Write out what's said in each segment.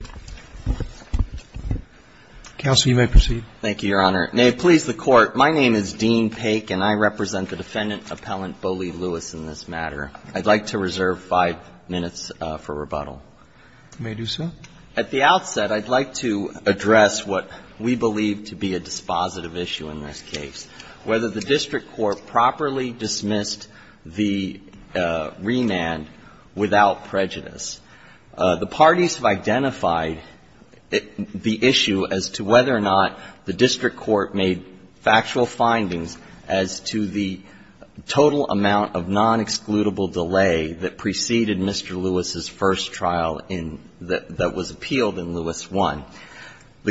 in this matter. I'd like to reserve five minutes for rebuttal. You may do so. At the outset, I'd like to address what we believe to be a dispositive issue in this case, whether the district court properly dismissed the remand The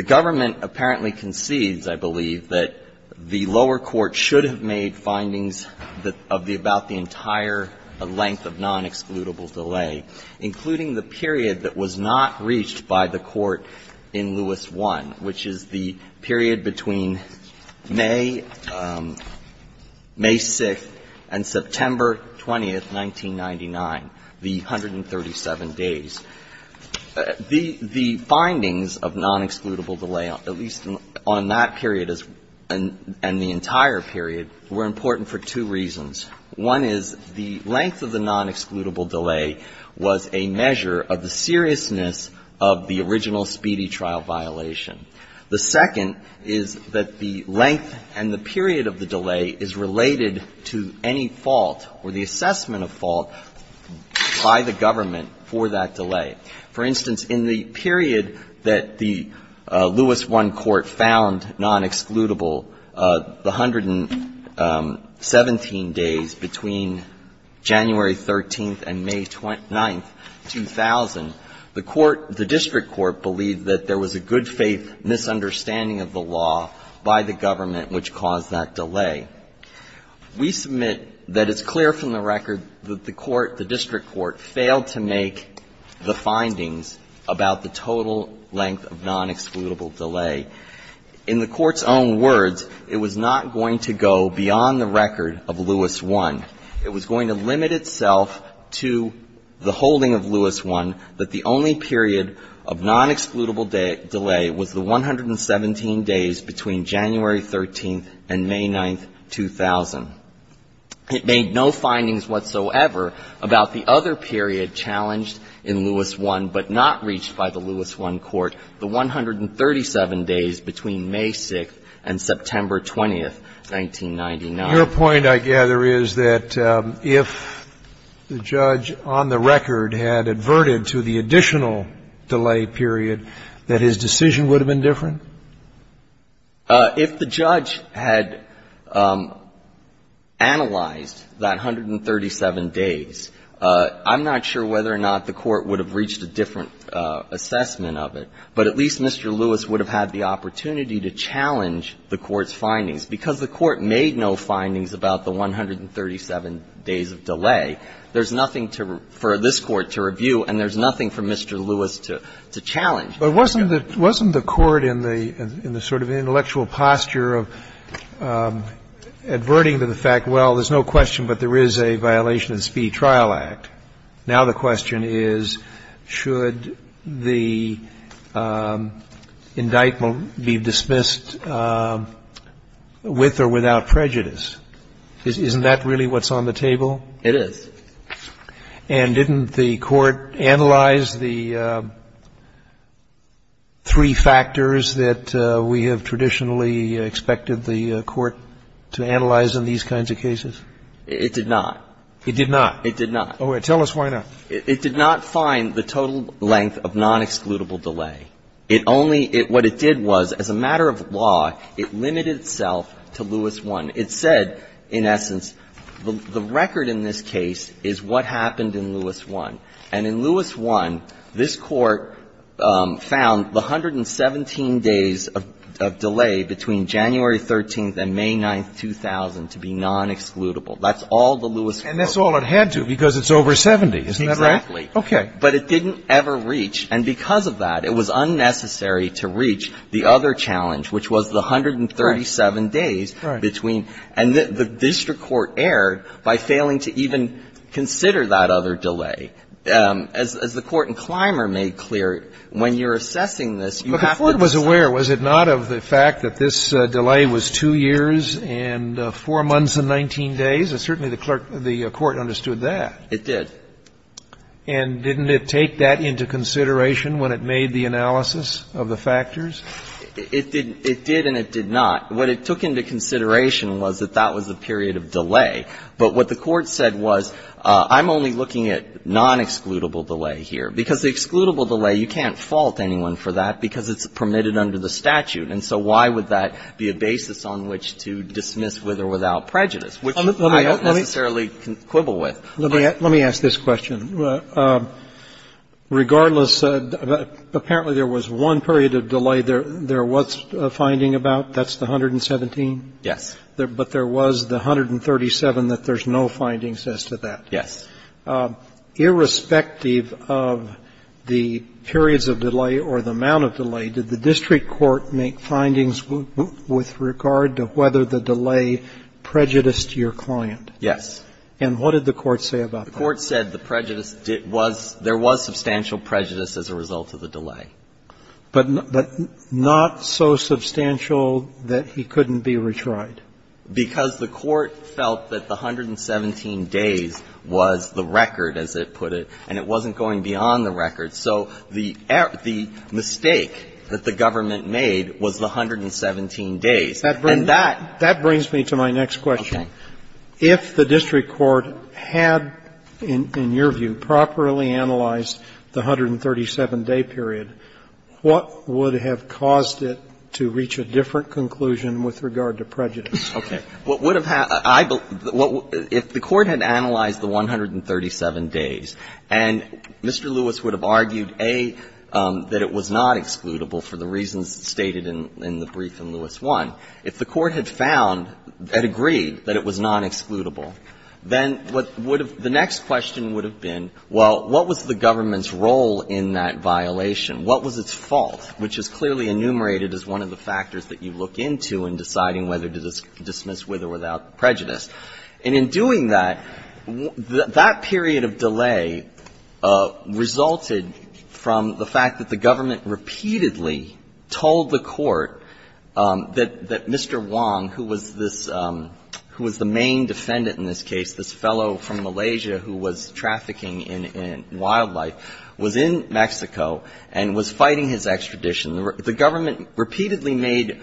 government apparently concedes, I believe, that the lower court should have made findings of the about the entire length of non-excludable delay, including the period that was not reached by the court in Lewis I, which is the period between May 6th and September 20th, 1999, the 137 days. The findings of non-excludable delay, at least on that period and the entire period, were important for two reasons. One is the length of the non-excludable delay was a measure of the seriousness of the original speedy trial violation. The second is that the length and the period of the delay is related to any fault or the assessment of fault by the government for that delay. For instance, in the period that the Lewis I court found non-excludable, the 117 days between January 13th and May 9th, 2000, the court, the district court, believed that there was a good-faith misunderstanding of the law by the government, which caused that delay. We submit that it's clear from the record that the court, the district court, failed to make the findings about the total length of non-excludable delay. In the Court's own words, it was not going to go beyond the record of Lewis I. It was going to limit itself to the holding of Lewis I that the only period of non-excludable delay was the 117 days between January 13th and May 9th, 2000. It made no findings whatsoever about the other period challenged in Lewis I but not reached by the Lewis I court, the 137 days between May 6th and September 20th, 1999. Your point, I gather, is that if the judge on the record had adverted to the additional delay period, that his decision would have been different? If the judge had analyzed that 137 days, I'm not sure whether or not the court would have reached a different assessment of it, but at least Mr. Lewis would have had the opportunity to challenge the court's findings. Because the court made no findings about the 137 days of delay, there's nothing for this Court to review and there's nothing for Mr. Lewis to challenge. But wasn't the court in the sort of intellectual posture of adverting to the fact, well, there's no question, but there is a violation of the Speed Trial Act. Now the question is, should the indictment be dismissed with or without prejudice? Isn't that really what's on the table? It is. And didn't the court analyze the three factors that we have traditionally expected the court to analyze in these kinds of cases? It did not. It did not? It did not. All right. Tell us why not. It did not find the total length of non-excludable delay. It only – what it did was, as a matter of law, it limited itself to Lewis I. It said, in essence, the record in this case is what happened in Lewis I. And in Lewis I, this Court found the 117 days of delay between January 13th and May 9th, 2000 to be non-excludable. That's all the Lewis quote. And that's all it had to, because it's over 70. Isn't that right? Exactly. Okay. But it didn't ever reach. And because of that, it was unnecessary to reach the other challenge, which was the 137 days between – and the district court erred by failing to even consider that other delay. As the Court in Clymer made clear, when you're assessing this, you have to assess it. But the Court was aware, was it not, of the fact that this delay was 2 years and 4 months and 19 days? And certainly the court understood that. It did. And didn't it take that into consideration when it made the analysis of the factors? It did and it did not. What it took into consideration was that that was a period of delay. But what the Court said was, I'm only looking at non-excludable delay here. Because the excludable delay, you can't fault anyone for that because it's permitted under the statute. And so why would that be a basis on which to dismiss with or without prejudice, which I don't necessarily quibble with. Let me ask this question. Regardless, apparently there was one period of delay there. There was a finding about, that's the 117? Yes. But there was the 137 that there's no findings as to that? Yes. Irrespective of the periods of delay or the amount of delay, did the district court make findings with regard to whether the delay prejudiced your client? Yes. And what did the court say about that? The court said the prejudice was, there was substantial prejudice as a result of the delay. But not so substantial that he couldn't be retried? Because the court felt that the 117 days was the record, as it put it, and it wasn't going beyond the record. So the mistake that the government made was the 117 days. And that brings me to my next question. If the district court had, in your view, properly analyzed the 137-day period, what would have caused it to reach a different conclusion with regard to prejudice? Okay. What would have happened, I believe, if the court had analyzed the 137 days and Mr. Lewis would have argued, A, that it was not excludable for the reasons stated in the brief in Lewis I, if the court had found, had agreed that it was not excludable, then what would have, the next question would have been, well, what was the government's role in that violation? What was its fault? Which is clearly enumerated as one of the factors that you look into in deciding whether to dismiss with or without prejudice. And in doing that, that period of delay resulted from the fact that the government repeatedly told the court that Mr. Wong, who was this, who was the main defendant in this case, this fellow from Malaysia who was trafficking in wildlife, was the main defendant, was in Mexico and was fighting his extradition. The government repeatedly made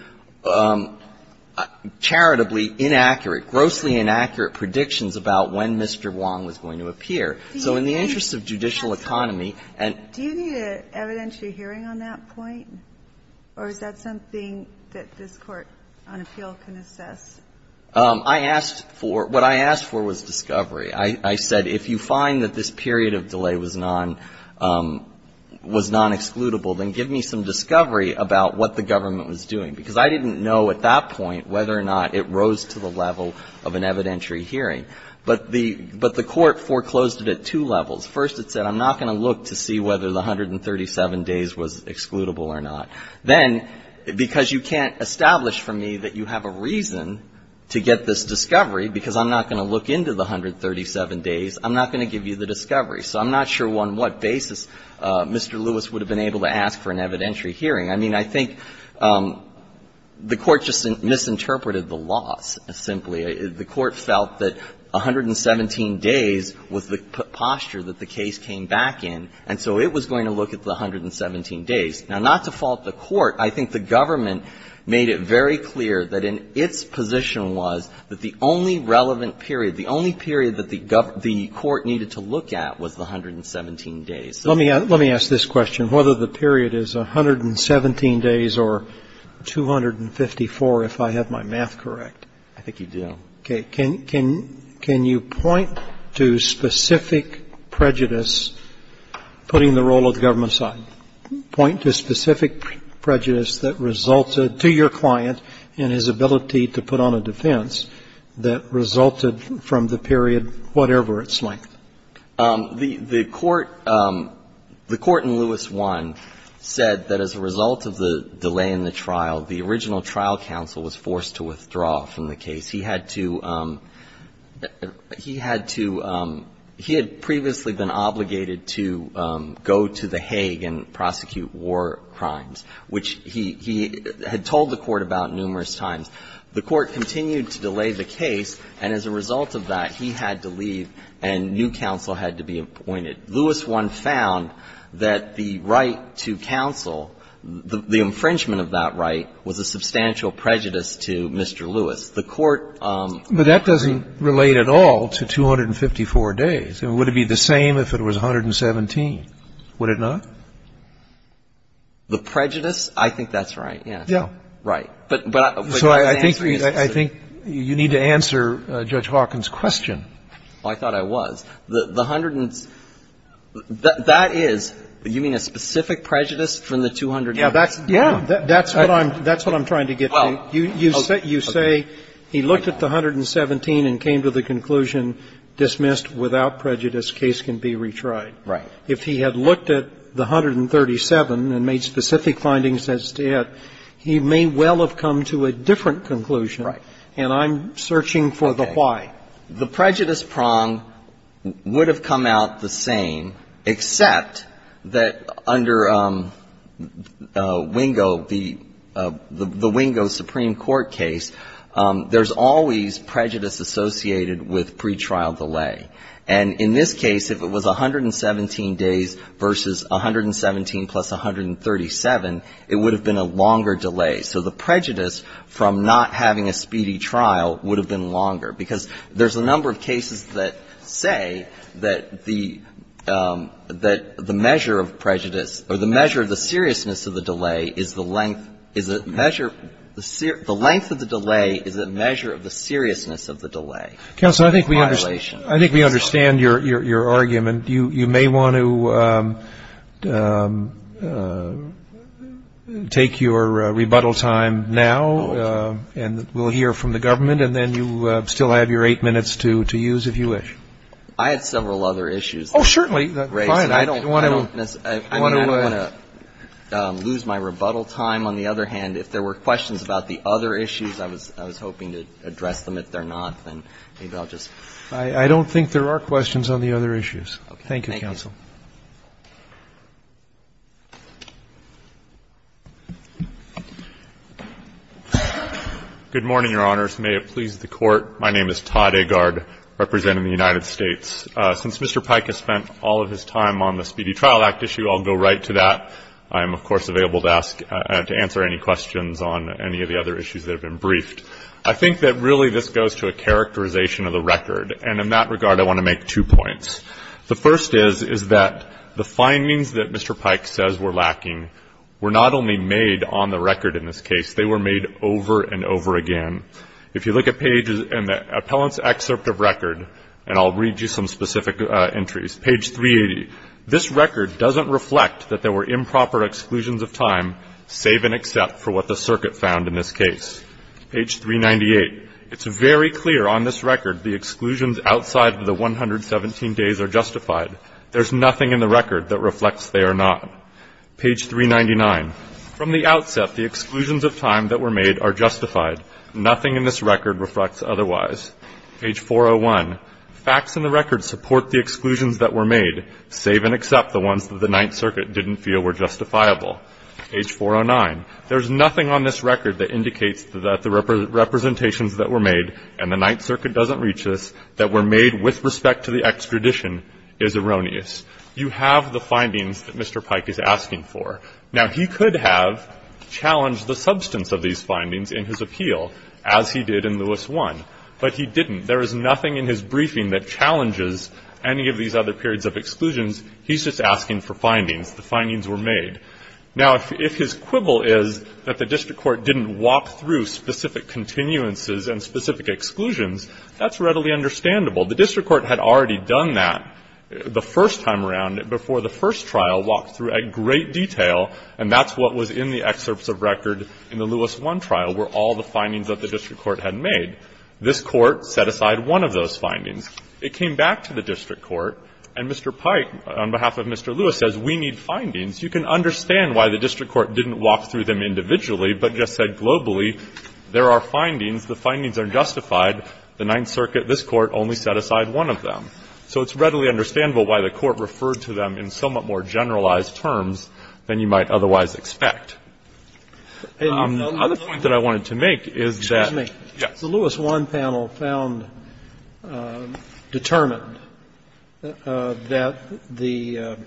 charitably inaccurate, grossly inaccurate predictions about when Mr. Wong was going to appear. So in the interest of judicial economy and do you need an evidentiary hearing on that point, or is that something that this Court on appeal can assess? I asked for, what I asked for was discovery. I said, if you find that this period of delay was non-excludable, then give me some discovery about what the government was doing. Because I didn't know at that point whether or not it rose to the level of an evidentiary hearing. But the Court foreclosed it at two levels. First, it said, I'm not going to look to see whether the 137 days was excludable or not. Then, because you can't establish for me that you have a reason to get this discovery because I'm not going to look into the 137 days, I'm not going to give you the discovery. So I'm not sure on what basis Mr. Lewis would have been able to ask for an evidentiary hearing. I mean, I think the Court just misinterpreted the loss, simply. The Court felt that 117 days was the posture that the case came back in, and so it was going to look at the 117 days. Now, not to fault the Court, I think the government made it very clear that in its position was that the only relevant period, the only period that the Court needed to look at was the 117 days. So the only relevant period was the 117 days. Roberts. Let me ask this question. Whether the period is 117 days or 254, if I have my math correct. I think you do. Okay. Can you point to specific prejudice, putting the role of the government aside? Point to specific prejudice that resulted, to your client, in his ability to put on a defense that resulted from the period, whatever its length. The Court in Lewis I said that as a result of the delay in the trial, the original trial counsel was forced to withdraw from the case. He had to, he had to, he had previously been obligated to go to the Hague and ask to prosecute war crimes, which he had told the Court about numerous times. The Court continued to delay the case, and as a result of that, he had to leave and new counsel had to be appointed. Lewis I found that the right to counsel, the infringement of that right, was a substantial prejudice to Mr. Lewis. The Court ---- But that doesn't relate at all to 254 days. Would it be the same if it was 117? Would it not? The prejudice? I think that's right, yes. Right. But I think you need to answer Judge Hawkins' question. I thought I was. The hundreds, that is, you mean a specific prejudice from the 200 days? Yes. That's what I'm trying to get at. You say he looked at the 117 and came to the conclusion, dismissed, without prejudice, case can be retried. Right. If he had looked at the 137 and made specific findings as to it, he may well have come to a different conclusion. Right. And I'm searching for the why. The prejudice prong would have come out the same, except that under Wingo, the Wingo Supreme Court case, there's always prejudice associated with pretrial delay. And in this case, if it was 117 days versus 117 plus 137, it would have been a longer delay. So the prejudice from not having a speedy trial would have been longer. Because there's a number of cases that say that the measure of prejudice or the measure of the seriousness of the delay is the length, is the measure, the length of the delay is a measure of the seriousness of the delay. Counsel, I think we understand. I think we understand your argument. You may want to take your rebuttal time now, and we'll hear from the government, and then you still have your eight minutes to use, if you wish. I had several other issues. Oh, certainly. Fine. I don't want to lose my rebuttal time. On the other hand, if there were questions about the other issues, I was hoping to address them. But if there are not, then maybe I'll just... I don't think there are questions on the other issues. Thank you, Counsel. Thank you. Good morning, Your Honors. May it please the Court. My name is Todd Agard, representing the United States. Since Mr. Pike has spent all of his time on the Speedy Trial Act issue, I'll go right to that. I am, of course, available to ask, to answer any questions on any of the other issues that have been briefed. I think that really this goes to a characterization of the record. And in that regard, I want to make two points. The first is, is that the findings that Mr. Pike says were lacking were not only made on the record in this case. They were made over and over again. If you look at pages in the appellant's excerpt of record, and I'll read you some specific entries, page 380, this record doesn't reflect that there were improper exclusions of time, save and except for what the circuit found in this case. Page 398, it's very clear on this record the exclusions outside of the 117 days are justified. There's nothing in the record that reflects they are not. Page 399, from the outset, the exclusions of time that were made are justified. Nothing in this record reflects otherwise. Page 401, facts in the record support the exclusions that were made, save and except the ones that the Ninth Circuit didn't feel were justifiable. Page 409, there's nothing on this record that indicates that the representations that were made, and the Ninth Circuit doesn't reach this, that were made with respect to the extradition is erroneous. You have the findings that Mr. Pike is asking for. Now, he could have challenged the substance of these findings in his appeal, as he did in Lewis 1, but he didn't. There is nothing in his briefing that challenges any of these other periods of exclusions. He's just asking for findings. The findings were made. Now, if his quibble is that the district court didn't walk through specific continuances and specific exclusions, that's readily understandable. The district court had already done that the first time around before the first trial walked through at great detail, and that's what was in the excerpts of record in the Lewis 1 trial, were all the findings that the district court had made. This court set aside one of those findings. It came back to the district court, and Mr. Pike, on behalf of Mr. Lewis, says we need findings. You can understand why the district court didn't walk through them individually, but just said globally, there are findings, the findings are justified. The Ninth Circuit, this Court, only set aside one of them. So it's readily understandable why the Court referred to them in somewhat more generalized terms than you might otherwise expect. The other point that I wanted to make is that the Louis 1 panel found determined that the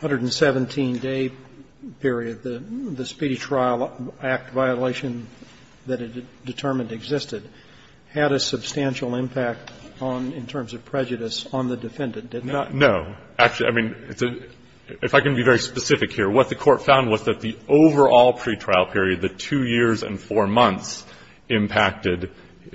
117-day period, the speedy trial act violation that it determined existed, had a substantial impact on, in terms of prejudice, on the defendant, did not it? No. Actually, I mean, if I can be very specific here, what the Court found was that the overall pretrial period, the 2 years and 4 months, impacted,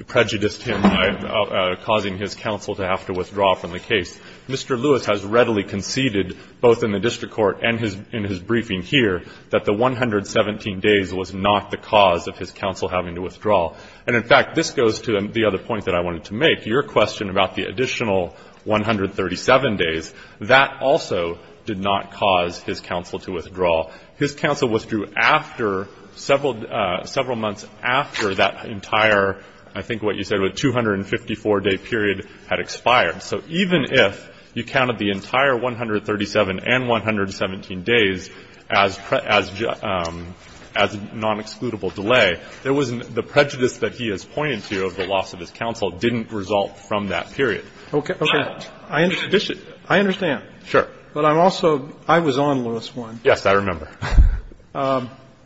prejudiced him by causing his counsel to have to withdraw from the case. Mr. Lewis has readily conceded, both in the district court and in his briefing here, that the 117 days was not the cause of his counsel having to withdraw. And, in fact, this goes to the other point that I wanted to make. Your question about the additional 137 days, that also did not cause his counsel to withdraw. His counsel withdrew after several months after that entire, I think what you said, sort of a 254-day period had expired. So even if you counted the entire 137 and 117 days as non-excludable delay, the prejudice that he has pointed to of the loss of his counsel didn't result from that period. Okay. I understand. Sure. But I'm also ‑‑I was on Louis 1. Yes, I remember.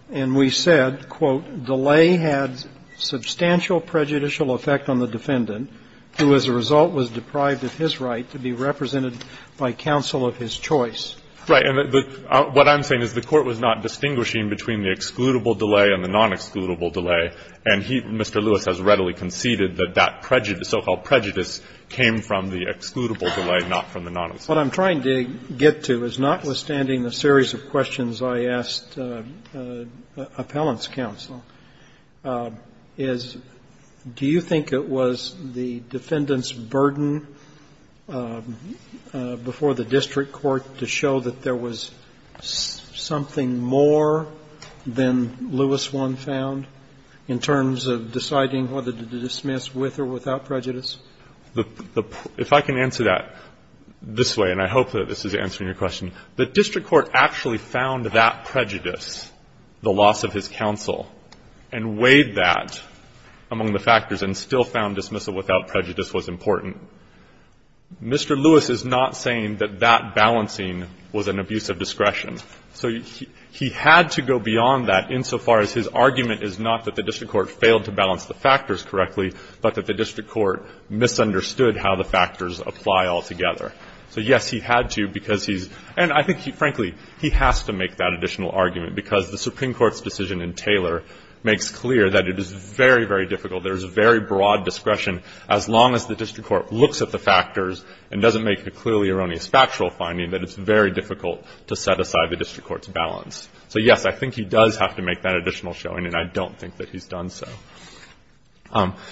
And we said, quote, delay had substantial prejudicial effect on the defendant, who as a result was deprived of his right to be represented by counsel of his choice. Right. And what I'm saying is the Court was not distinguishing between the excludable delay and the non-excludable delay, and he, Mr. Lewis, has readily conceded that that prejudice, so-called prejudice, came from the excludable delay, not from the non‑excludable delay. What I'm trying to get to is, notwithstanding the series of questions I asked appellant's counsel, is do you think it was the defendant's burden before the district court to show that there was something more than Louis 1 found in terms of deciding whether to dismiss with or without prejudice? If I can answer that this way, and I hope that this is answering your question, the district court actually found that prejudice, the loss of his counsel, and weighed that among the factors and still found dismissal without prejudice was important. Mr. Lewis is not saying that that balancing was an abuse of discretion. So he had to go beyond that insofar as his argument is not that the district court misunderstood how the factors apply altogether. So, yes, he had to because he's ‑‑ and I think, frankly, he has to make that additional argument because the Supreme Court's decision in Taylor makes clear that it is very, very difficult. There is very broad discretion as long as the district court looks at the factors and doesn't make a clearly erroneous factual finding that it's very difficult to set aside the district court's balance. So, yes, I think he does have to make that additional showing, and I don't think that he's done so.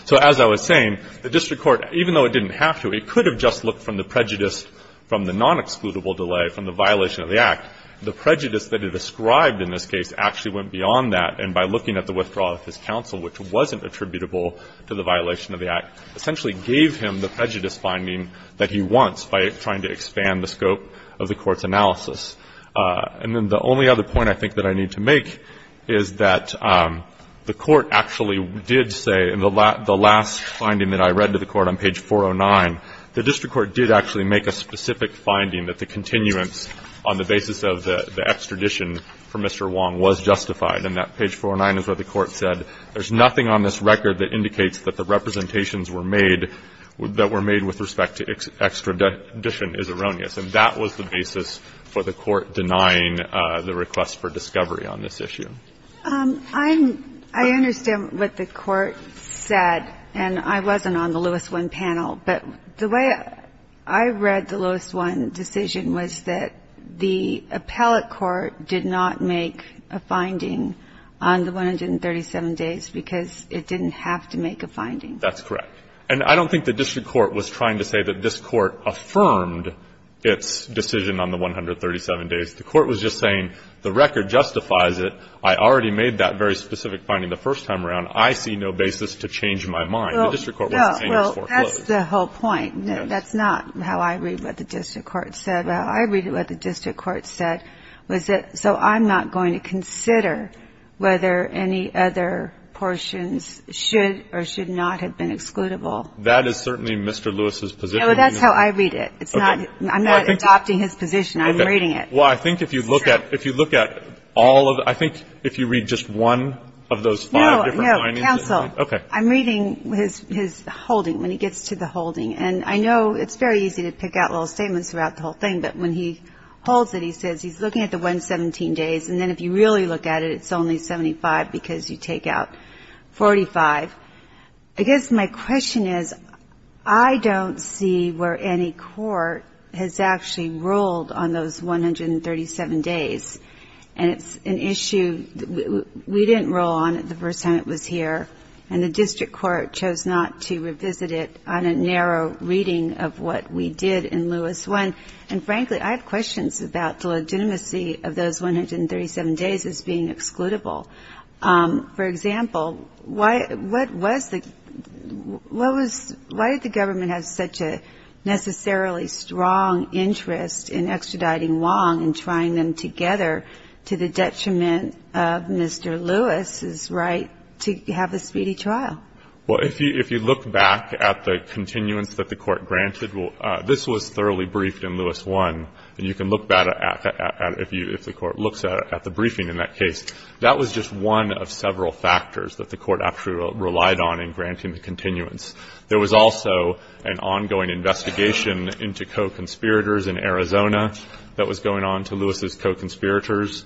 So as I was saying, the district court, even though it didn't have to, it could have just looked from the prejudice, from the nonexcludable delay, from the violation of the Act. The prejudice that it ascribed in this case actually went beyond that, and by looking at the withdrawal of his counsel, which wasn't attributable to the violation of the Act, essentially gave him the prejudice finding that he wants by trying to expand the scope of the court's analysis. And then the only other point I think that I need to make is that the court actually did say in the last finding that I read to the court on page 409, the district court did actually make a specific finding that the continuance on the basis of the extradition for Mr. Wong was justified. And that page 409 is where the court said there's nothing on this record that indicates that the representations were made that were made with respect to extradition is erroneous. And that was the basis for the court denying the request for discovery on this issue. I understand what the court said, and I wasn't on the Lewis I panel, but the way I read the Lewis I decision was that the appellate court did not make a finding on the 137 days because it didn't have to make a finding. That's correct. And I don't think the district court was trying to say that this court affirmed its decision on the 137 days. The court was just saying the record justifies it. I already made that very specific finding the first time around. I see no basis to change my mind. Well, that's the whole point. That's not how I read what the district court said. I read what the district court said was that so I'm not going to consider whether any other portions should or should not have been excludable. That is certainly Mr. Lewis's position. That's how I read it. It's not I'm not adopting his position. I'm reading it. Well, I think if you look at if you look at all of I think if you read just one of those five different findings. No, no, counsel. Okay. I'm reading his holding when he gets to the holding. And I know it's very easy to pick out little statements throughout the whole thing. But when he holds it, he says he's looking at the 117 days. And then if you really look at it, it's only 75 because you take out 45. I guess my question is, I don't see where any court has actually ruled on those 137 days. And it's an issue we didn't rule on it the first time it was here. And the district court chose not to revisit it on a narrow reading of what we did in Lewis 1. And frankly, I have questions about the legitimacy of those 137 days as being excludable. For example, why what was the what was why did the government have such a necessarily strong interest in extraditing Wong and trying them together to the detriment of Mr. Lewis's right to have a speedy trial? Well, if you if you look back at the continuance that the court granted, well, this was thoroughly briefed in Lewis 1. And you can look back at if you if the court looks at the briefing in that case, that was just one of several factors that the court actually relied on in granting the continuance. There was also an ongoing investigation into co-conspirators in Arizona that was going on to Lewis's co-conspirators.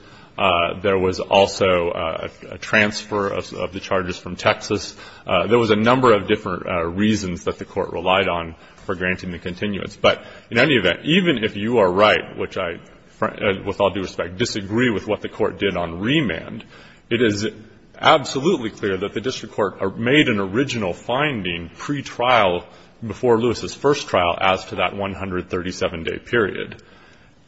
There was also a transfer of the charges from Texas. There was a number of different reasons that the court relied on for granting the continuance. But in any event, even if you are right, which I, with all due respect, disagree with what the court did on remand, it is absolutely clear that the district court made an original finding pretrial before Lewis's first trial as to that 137-day period.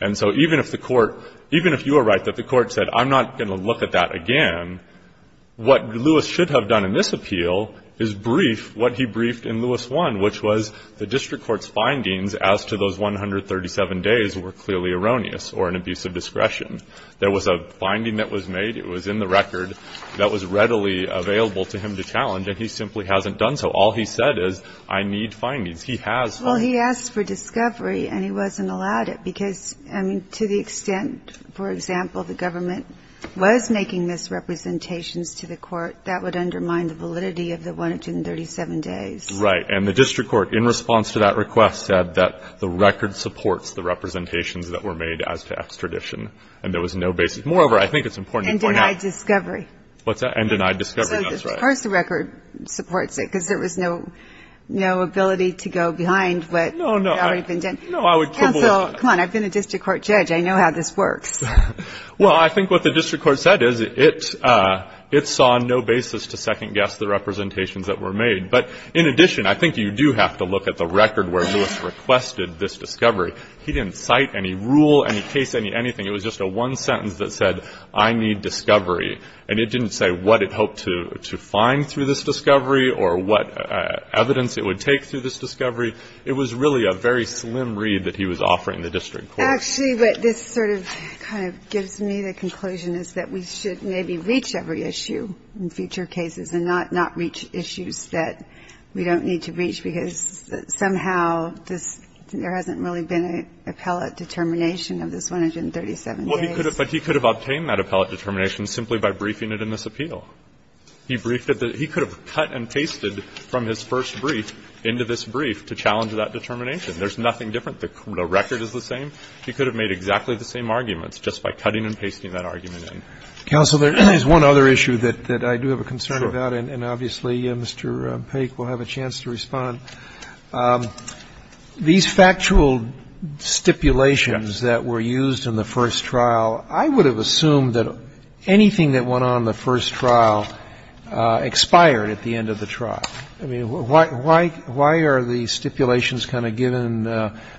And so even if the court, even if you are right that the court said, I'm not going to look at that again, what Lewis should have done in this appeal is brief what he briefed in Lewis 1, which was the district court's findings as to those 137 days were clearly erroneous or an abuse of discretion. There was a finding that was made. It was in the record that was readily available to him to challenge. And he simply hasn't done so. All he said is, I need findings. He has. Well, he asked for discovery and he wasn't allowed it because, I mean, to the extent, for example, the government was making this representations to the court, that would undermine the validity of the 137 days. Right. And the district court, in response to that request, said that the record supports the representations that were made as to extradition. And there was no basis. Moreover, I think it's important to point out. And denied discovery. What's that? And denied discovery. That's right. Of course, the record supports it because there was no ability to go behind what had already been done. No, I would quibble with that. Counsel, come on. I've been a district court judge. I know how this works. Well, I think what the district court said is it saw no basis to second guess the representations that were made. But in addition, I think you do have to look at the record where Lewis requested this discovery. He didn't cite any rule, any case, any anything. It was just a one sentence that said, I need discovery. And it didn't say what it hoped to find through this discovery or what evidence it would take through this discovery. It was really a very slim read that he was offering the district court. Actually, what this sort of kind of gives me, the conclusion, is that we should maybe reach every issue in future cases and not reach issues that we don't need to reach, because somehow this, there hasn't really been an appellate determination of this 137 days. Well, he could have, but he could have obtained that appellate determination simply by briefing it in this appeal. He briefed it, he could have cut and pasted from his first brief into this brief to challenge that determination. There's nothing different. The record is the same. He could have made exactly the same arguments just by cutting and pasting that argument in. Counsel, there is one other issue that I do have a concern about. And obviously, Mr. Paik will have a chance to respond. These factual stipulations that were used in the first trial, I would have assumed that anything that went on in the first trial expired at the end of the trial. I mean, why are the stipulations kind of given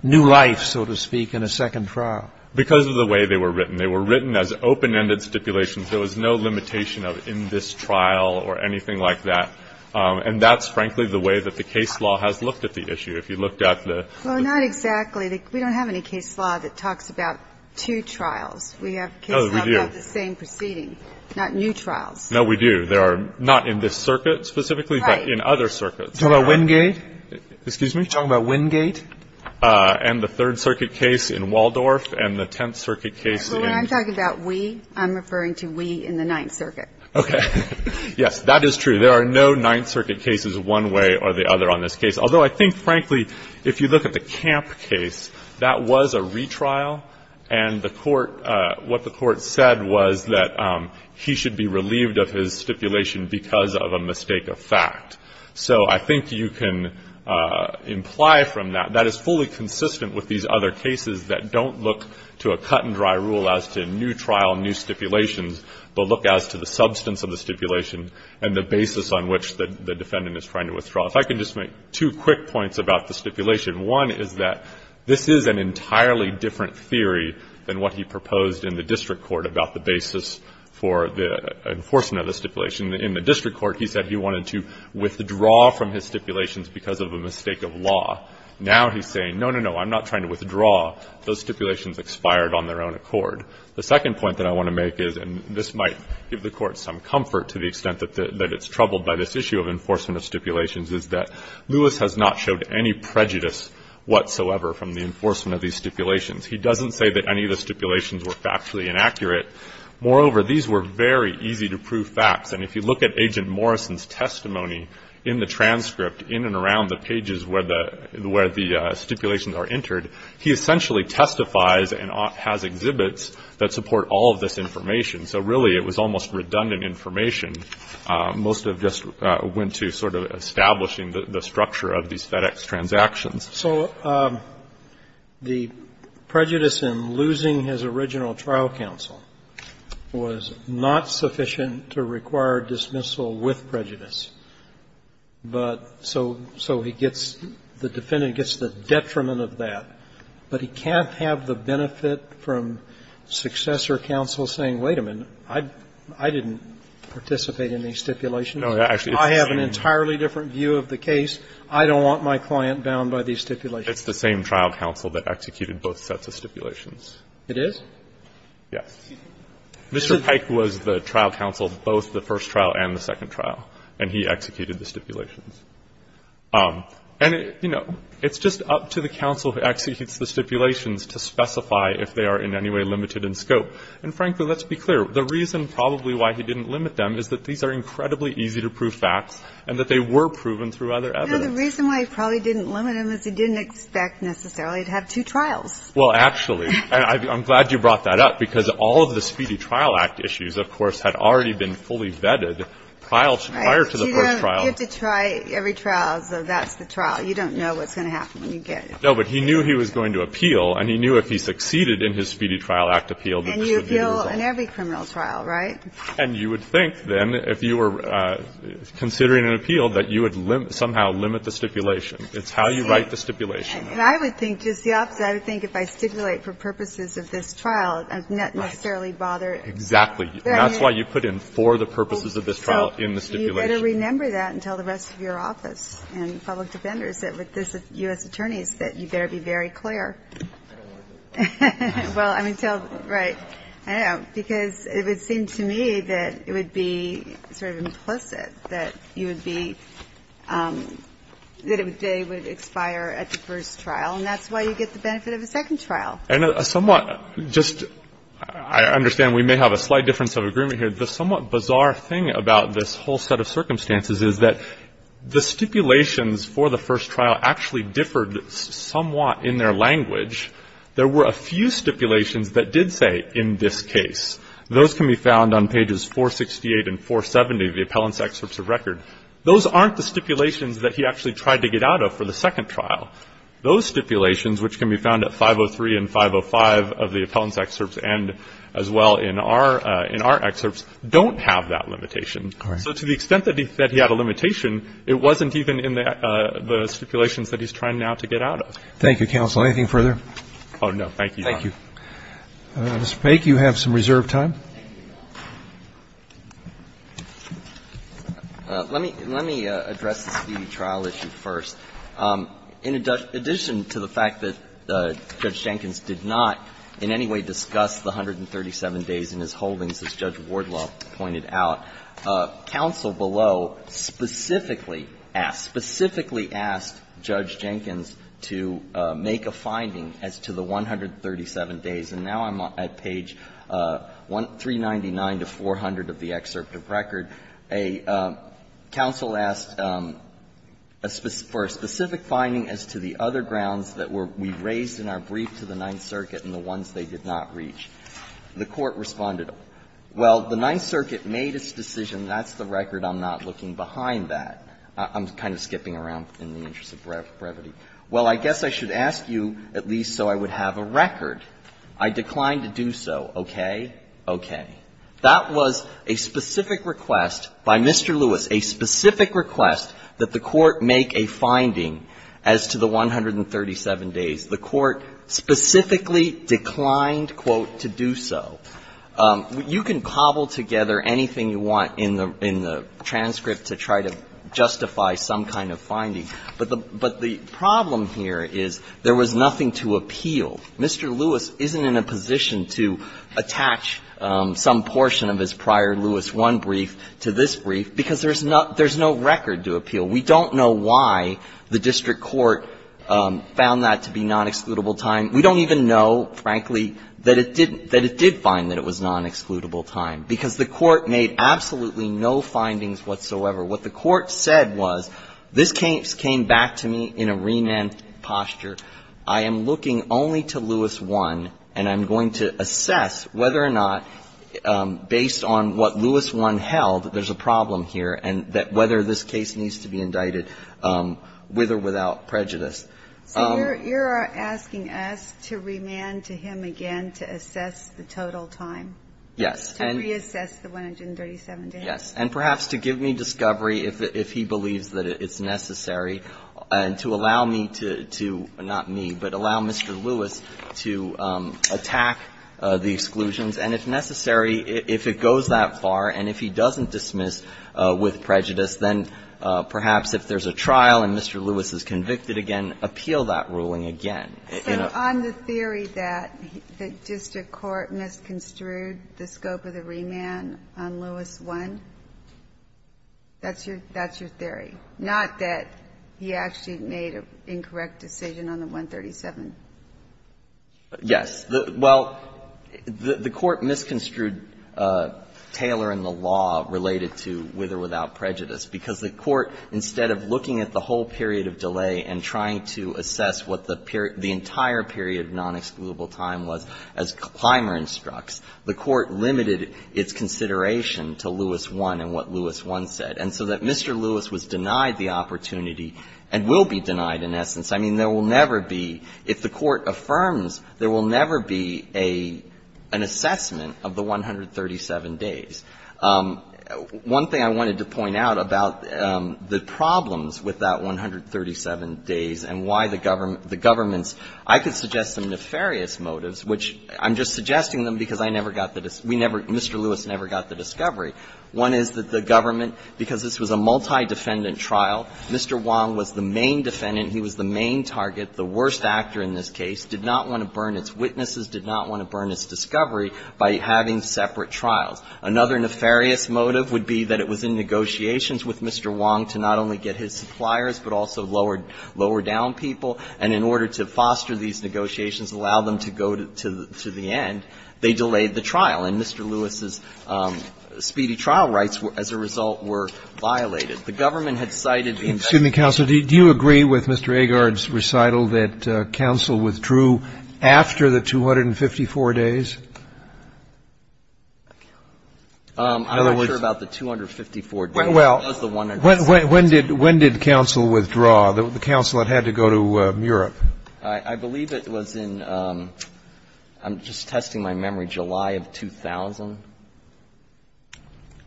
new life, so to speak, in a second trial? Because of the way they were written. They were written as open-ended stipulations. There was no limitation of in this trial or anything like that. And that's, frankly, the way that the case law has looked at the issue. If you looked at the ---- Well, not exactly. We don't have any case law that talks about two trials. We have case law about the same proceeding, not new trials. No, we do. There are not in this circuit specifically, but in other circuits. Right. You're talking about Wingate? Excuse me? You're talking about Wingate? And the Third Circuit case in Waldorf and the Tenth Circuit case in ---- Well, when I'm talking about we, I'm referring to we in the Ninth Circuit. Okay. Yes, that is true. There are no Ninth Circuit cases one way or the other on this case. Although I think, frankly, if you look at the Camp case, that was a retrial. And the Court, what the Court said was that he should be relieved of his stipulation because of a mistake of fact. So I think you can imply from that, that is fully consistent with these other cases that don't look to a cut-and-dry rule as to new trial, new stipulations, but look as to the substance of the stipulation and the basis on which the defendant is trying to withdraw. If I could just make two quick points about the stipulation. One is that this is an entirely different theory than what he proposed in the district court about the basis for the enforcement of the stipulation. In the district court, he said he wanted to withdraw from his stipulations because of a mistake of law. Now he's saying, no, no, no, I'm not trying to withdraw. Those stipulations expired on their own accord. The second point that I want to make is, and this might give the Court some comfort to the extent that it's troubled by this issue of enforcement of stipulations, is that Lewis has not showed any prejudice whatsoever from the enforcement of these stipulations. He doesn't say that any of the stipulations were factually inaccurate. Moreover, these were very easy-to-prove facts. And if you look at Agent Morrison's testimony in the transcript, in and around the pages where the stipulations are entered, he essentially testifies and has exhibits that support all of this information. So really, it was almost redundant information. Most of it just went to sort of establishing the structure of these FedEx transactions. So the prejudice in losing his original trial counsel was not sufficient to require dismissal with prejudice. But so he gets the defendant gets the detriment of that, but he can't have the benefit from successor counsel saying, wait a minute, I didn't participate in these stipulations. I have an entirely different view of the case. I don't want my client bound by these stipulations. It's the same trial counsel that executed both sets of stipulations. It is? Yes. Mr. Pike was the trial counsel of both the first trial and the second trial, and he executed the stipulations. And, you know, it's just up to the counsel who executes the stipulations to specify if they are in any way limited in scope. And, frankly, let's be clear. The reason probably why he didn't limit them is that these are incredibly easy to prove facts and that they were proven through other evidence. No, the reason why he probably didn't limit them is he didn't expect necessarily to have two trials. Well, actually, and I'm glad you brought that up, because all of the Speedy Trial Act issues, of course, had already been fully vetted prior to the first trial. Right. You don't get to try every trial, so that's the trial. You don't know what's going to happen when you get it. No, but he knew he was going to appeal, and he knew if he succeeded in his Speedy You appeal in every criminal trial, right? And you would think, then, if you were considering an appeal, that you would somehow limit the stipulation. It's how you write the stipulation. And I would think just the opposite. I would think if I stipulate for purposes of this trial, I would not necessarily bother. Exactly. That's why you put in for the purposes of this trial in the stipulation. You better remember that and tell the rest of your office and public defenders and U.S. attorneys that you better be very clear. Well, I mean, tell, right, I don't know, because it would seem to me that it would be sort of implicit that you would be, that they would expire at the first trial, and that's why you get the benefit of a second trial. And a somewhat, just, I understand we may have a slight difference of agreement here. The somewhat bizarre thing about this whole set of circumstances is that the stipulations for the first trial actually differed somewhat in their language. There were a few stipulations that did say in this case. Those can be found on pages 468 and 470 of the appellant's excerpts of record. Those aren't the stipulations that he actually tried to get out of for the second trial. Those stipulations, which can be found at 503 and 505 of the appellant's excerpts and as well in our, in our excerpts, don't have that limitation. All right. So to the extent that he said he had a limitation, it wasn't even in the stipulations that he's trying now to get out of. Thank you, counsel. Anything further? Oh, no. Thank you. Thank you. Mr. Paik, you have some reserved time. Let me, let me address the speedy trial issue first. In addition to the fact that Judge Jenkins did not in any way discuss the 137 days in his holdings, as Judge Wardlaw pointed out, counsel below specifically asked, specifically asked Judge Jenkins to make a finding as to the 137 days. And now I'm at page 399 to 400 of the excerpt of record. A counsel asked for a specific finding as to the other grounds that were, we raised in our brief to the Ninth Circuit and the ones they did not reach. The Court responded, well, the Ninth Circuit made its decision. That's the record. I'm not looking behind that. I'm kind of skipping around in the interest of brevity. Well, I guess I should ask you at least so I would have a record. I declined to do so. Okay? Okay. That was a specific request by Mr. Lewis, a specific request that the Court make a finding as to the 137 days. The Court specifically declined, quote, to do so. You can cobble together anything you want in the transcript to try to justify some kind of finding, but the problem here is there was nothing to appeal. Mr. Lewis isn't in a position to attach some portion of his prior Lewis I brief to this brief because there's no record to appeal. We don't know why the district court found that to be nonexcludable time. We don't even know, frankly, that it did find that it was nonexcludable time because the Court made absolutely no findings whatsoever. What the Court said was this case came back to me in a renamed posture. I am looking only to Lewis I, and I'm going to assess whether or not, based on what Lewis I held, there's a problem here and that whether this case needs to be indicted with or without prejudice. So you're asking us to remand to him again to assess the total time? Yes. To reassess the 137 days? Yes. And perhaps to give me discovery if he believes that it's necessary, and to allow me to, not me, but allow Mr. Lewis to attack the exclusions, and if necessary, if it goes that far, and if he doesn't dismiss with prejudice, then perhaps if there's a trial and Mr. Lewis is convicted again, appeal that ruling again. So on the theory that the district court misconstrued the scope of the remand on Lewis I, that's your theory? Not that he actually made an incorrect decision on the 137? Yes. Well, the Court misconstrued Taylor and the law related to with or without prejudice because the Court, instead of looking at the whole period of delay and trying to assess what the entire period of nonexcludable time was as Clymer instructs, the Court limited its consideration to Lewis I and what Lewis I said. And so that Mr. Lewis was denied the opportunity and will be denied in essence. I mean, there will never be, if the Court affirms, there will never be an assessment of the 137 days. One thing I wanted to point out about the problems with that 137 days and why the government's – I could suggest some nefarious motives, which I'm just suggesting them because I never got the – we never – Mr. Lewis never got the discovery. One is that the government, because this was a multi-defendant trial, Mr. Wong was the main defendant, he was the main target, the worst actor in this case, did not want to burn its witnesses, did not want to burn its discovery by having separate trials. Another nefarious motive would be that it was in negotiations with Mr. Wong to not only get his suppliers but also lower down people, and in order to foster these negotiations, allow them to go to the end, they delayed the trial. And Mr. Lewis's speedy trial rights, as a result, were violated. The government had cited the investigation. Mr. Counsel, do you agree with Mr. Agard's recital that counsel withdrew after the 254 days? I'm not sure about the 254 days. Well, when did counsel withdraw? The counsel that had to go to Europe. I believe it was in – I'm just testing my memory – July of 2000.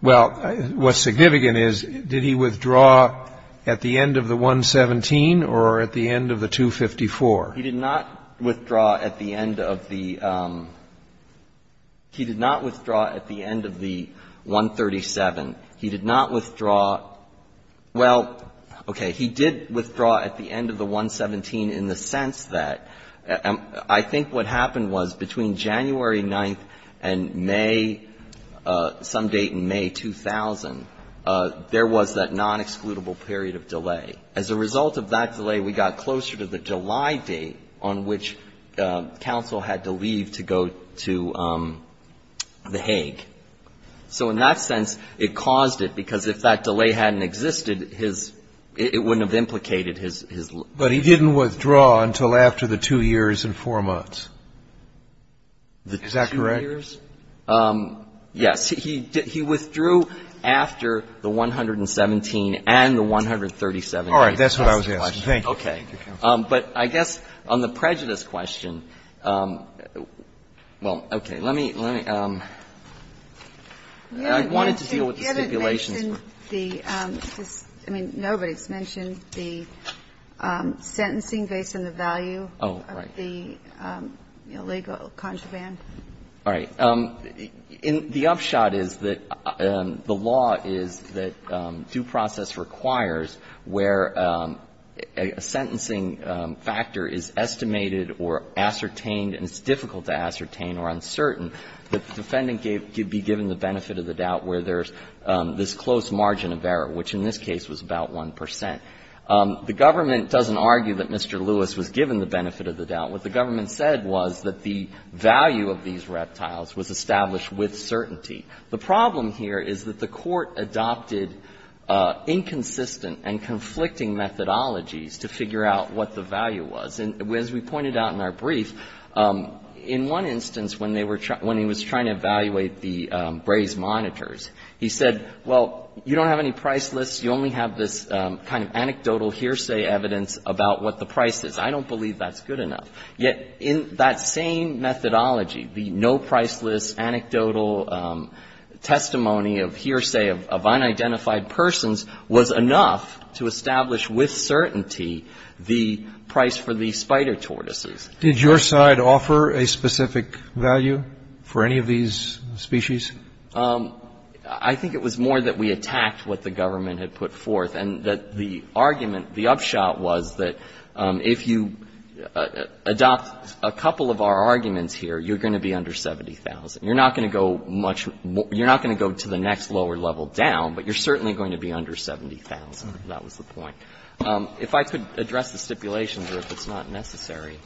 Well, what's significant is, did he withdraw at the end of the 117 or at the end of the 254? He did not withdraw at the end of the – he did not withdraw at the end of the 137. He did not withdraw – well, okay, he did withdraw at the end of the 117 in the sense that – I think what happened was, between January 9th and May – some date in May 2000, there was that non-excludable period of delay. As a result of that delay, we got closer to the July date on which counsel had to leave to go to The Hague. So in that sense, it caused it, because if that delay hadn't existed, his – it wouldn't have implicated his – But he didn't withdraw until after the 2 years and 4 months. Is that correct? The 2 years? Yes. He withdrew after the 117 and the 137. All right. That's what I was asking. Thank you. Okay. But I guess on the prejudice question – well, okay. Let me – I wanted to deal with the stipulations. You mentioned the – I mean, nobody's mentioned the sentencing based on the value of the illegal contraband. Oh, right. All right. The upshot is that the law is that due process requires where a sentencing factor is estimated or ascertained, and it's difficult to ascertain or uncertain, the defendant could be given the benefit of the doubt where there's this close margin of error, which in this case was about 1 percent. The government doesn't argue that Mr. Lewis was given the benefit of the doubt. What the government said was that the value of these reptiles was established with certainty. The problem here is that the Court adopted inconsistent and conflicting methodologies to figure out what the value was. And as we pointed out in our brief, in one instance when they were – when he was trying to evaluate the Braze monitors, he said, well, you don't have any price lists. You only have this kind of anecdotal hearsay evidence about what the price is. I don't believe that's good enough. Yet in that same methodology, the no-price list, anecdotal testimony of hearsay of unidentified persons was enough to establish with certainty the price for the spider tortoises. Did your side offer a specific value for any of these species? I think it was more that we attacked what the government had put forth and that the argument, the upshot was that if you adopt a couple of our arguments here, you're going to be under $70,000. You're not going to go much – you're not going to go to the next lower level down, but you're certainly going to be under $70,000. That was the point. If I could address the stipulations, or if it's not necessary.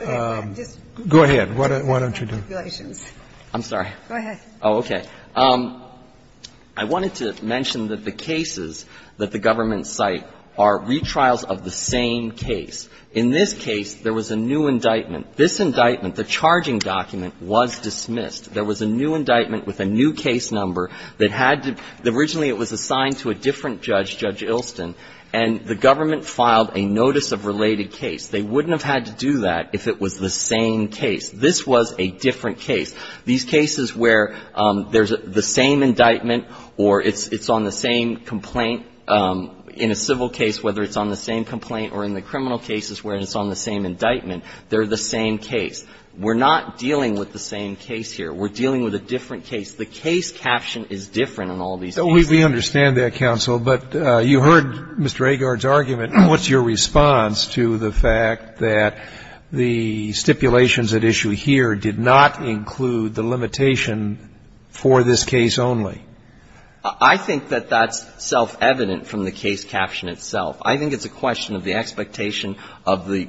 Go ahead. Why don't you do it? I'm sorry. Go ahead. Oh, okay. I wanted to mention that the cases that the government cite are retrials of the same case. In this case, there was a new indictment. This indictment, the charging document, was dismissed. There was a new indictment with a new case number that had to – originally it was assigned to a different judge, Judge Ilston, and the government filed a notice of related case. They wouldn't have had to do that if it was the same case. This was a different case. These cases where there's the same indictment or it's on the same complaint in a civil case, whether it's on the same complaint or in the criminal cases where it's on the same indictment, they're the same case. We're not dealing with the same case here. We're dealing with a different case. The case caption is different in all these cases. We understand that, counsel. But you heard Mr. Agard's argument. What's your response to the fact that the stipulations at issue here did not include the limitation for this case only? I think that that's self-evident from the case caption itself. I think it's a question of the expectation of the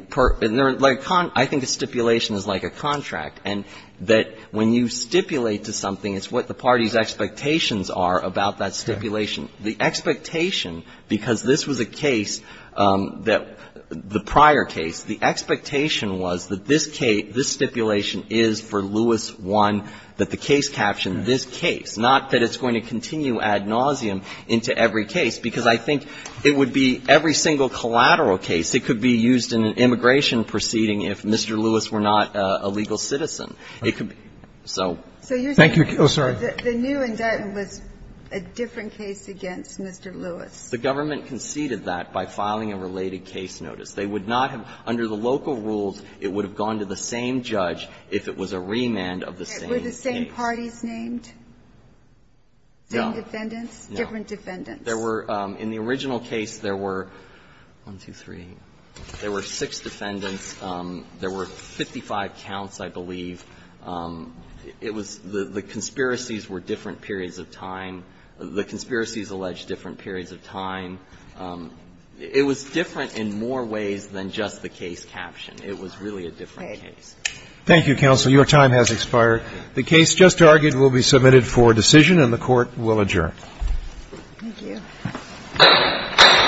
– I think a stipulation is like a contract. And that when you stipulate to something, it's what the party's expectations are about that stipulation. The expectation, because this was a case that – the prior case, the expectation was that this stipulation is for Lewis I, that the case caption, this case, not that it's going to continue ad nauseum into every case, because I think it would be every single collateral case. It could be used in an immigration proceeding if Mr. Lewis were not a legal citizen. It could be – so. Thank you. Oh, sorry. The new indictment was a different case against Mr. Lewis. The government conceded that by filing a related case notice. They would not have – under the local rules, it would have gone to the same judge if it was a remand of the same case. Were the same parties named? No. Same defendants? No. Different defendants? There were – in the original case, there were – one, two, three. There were six defendants. There were 55 counts, I believe. It was – the conspiracies were different periods of time. The conspiracies alleged different periods of time. It was different in more ways than just the case caption. It was really a different case. Thank you, counsel. Your time has expired. The case just argued will be submitted for decision, and the Court will adjourn. Thank you.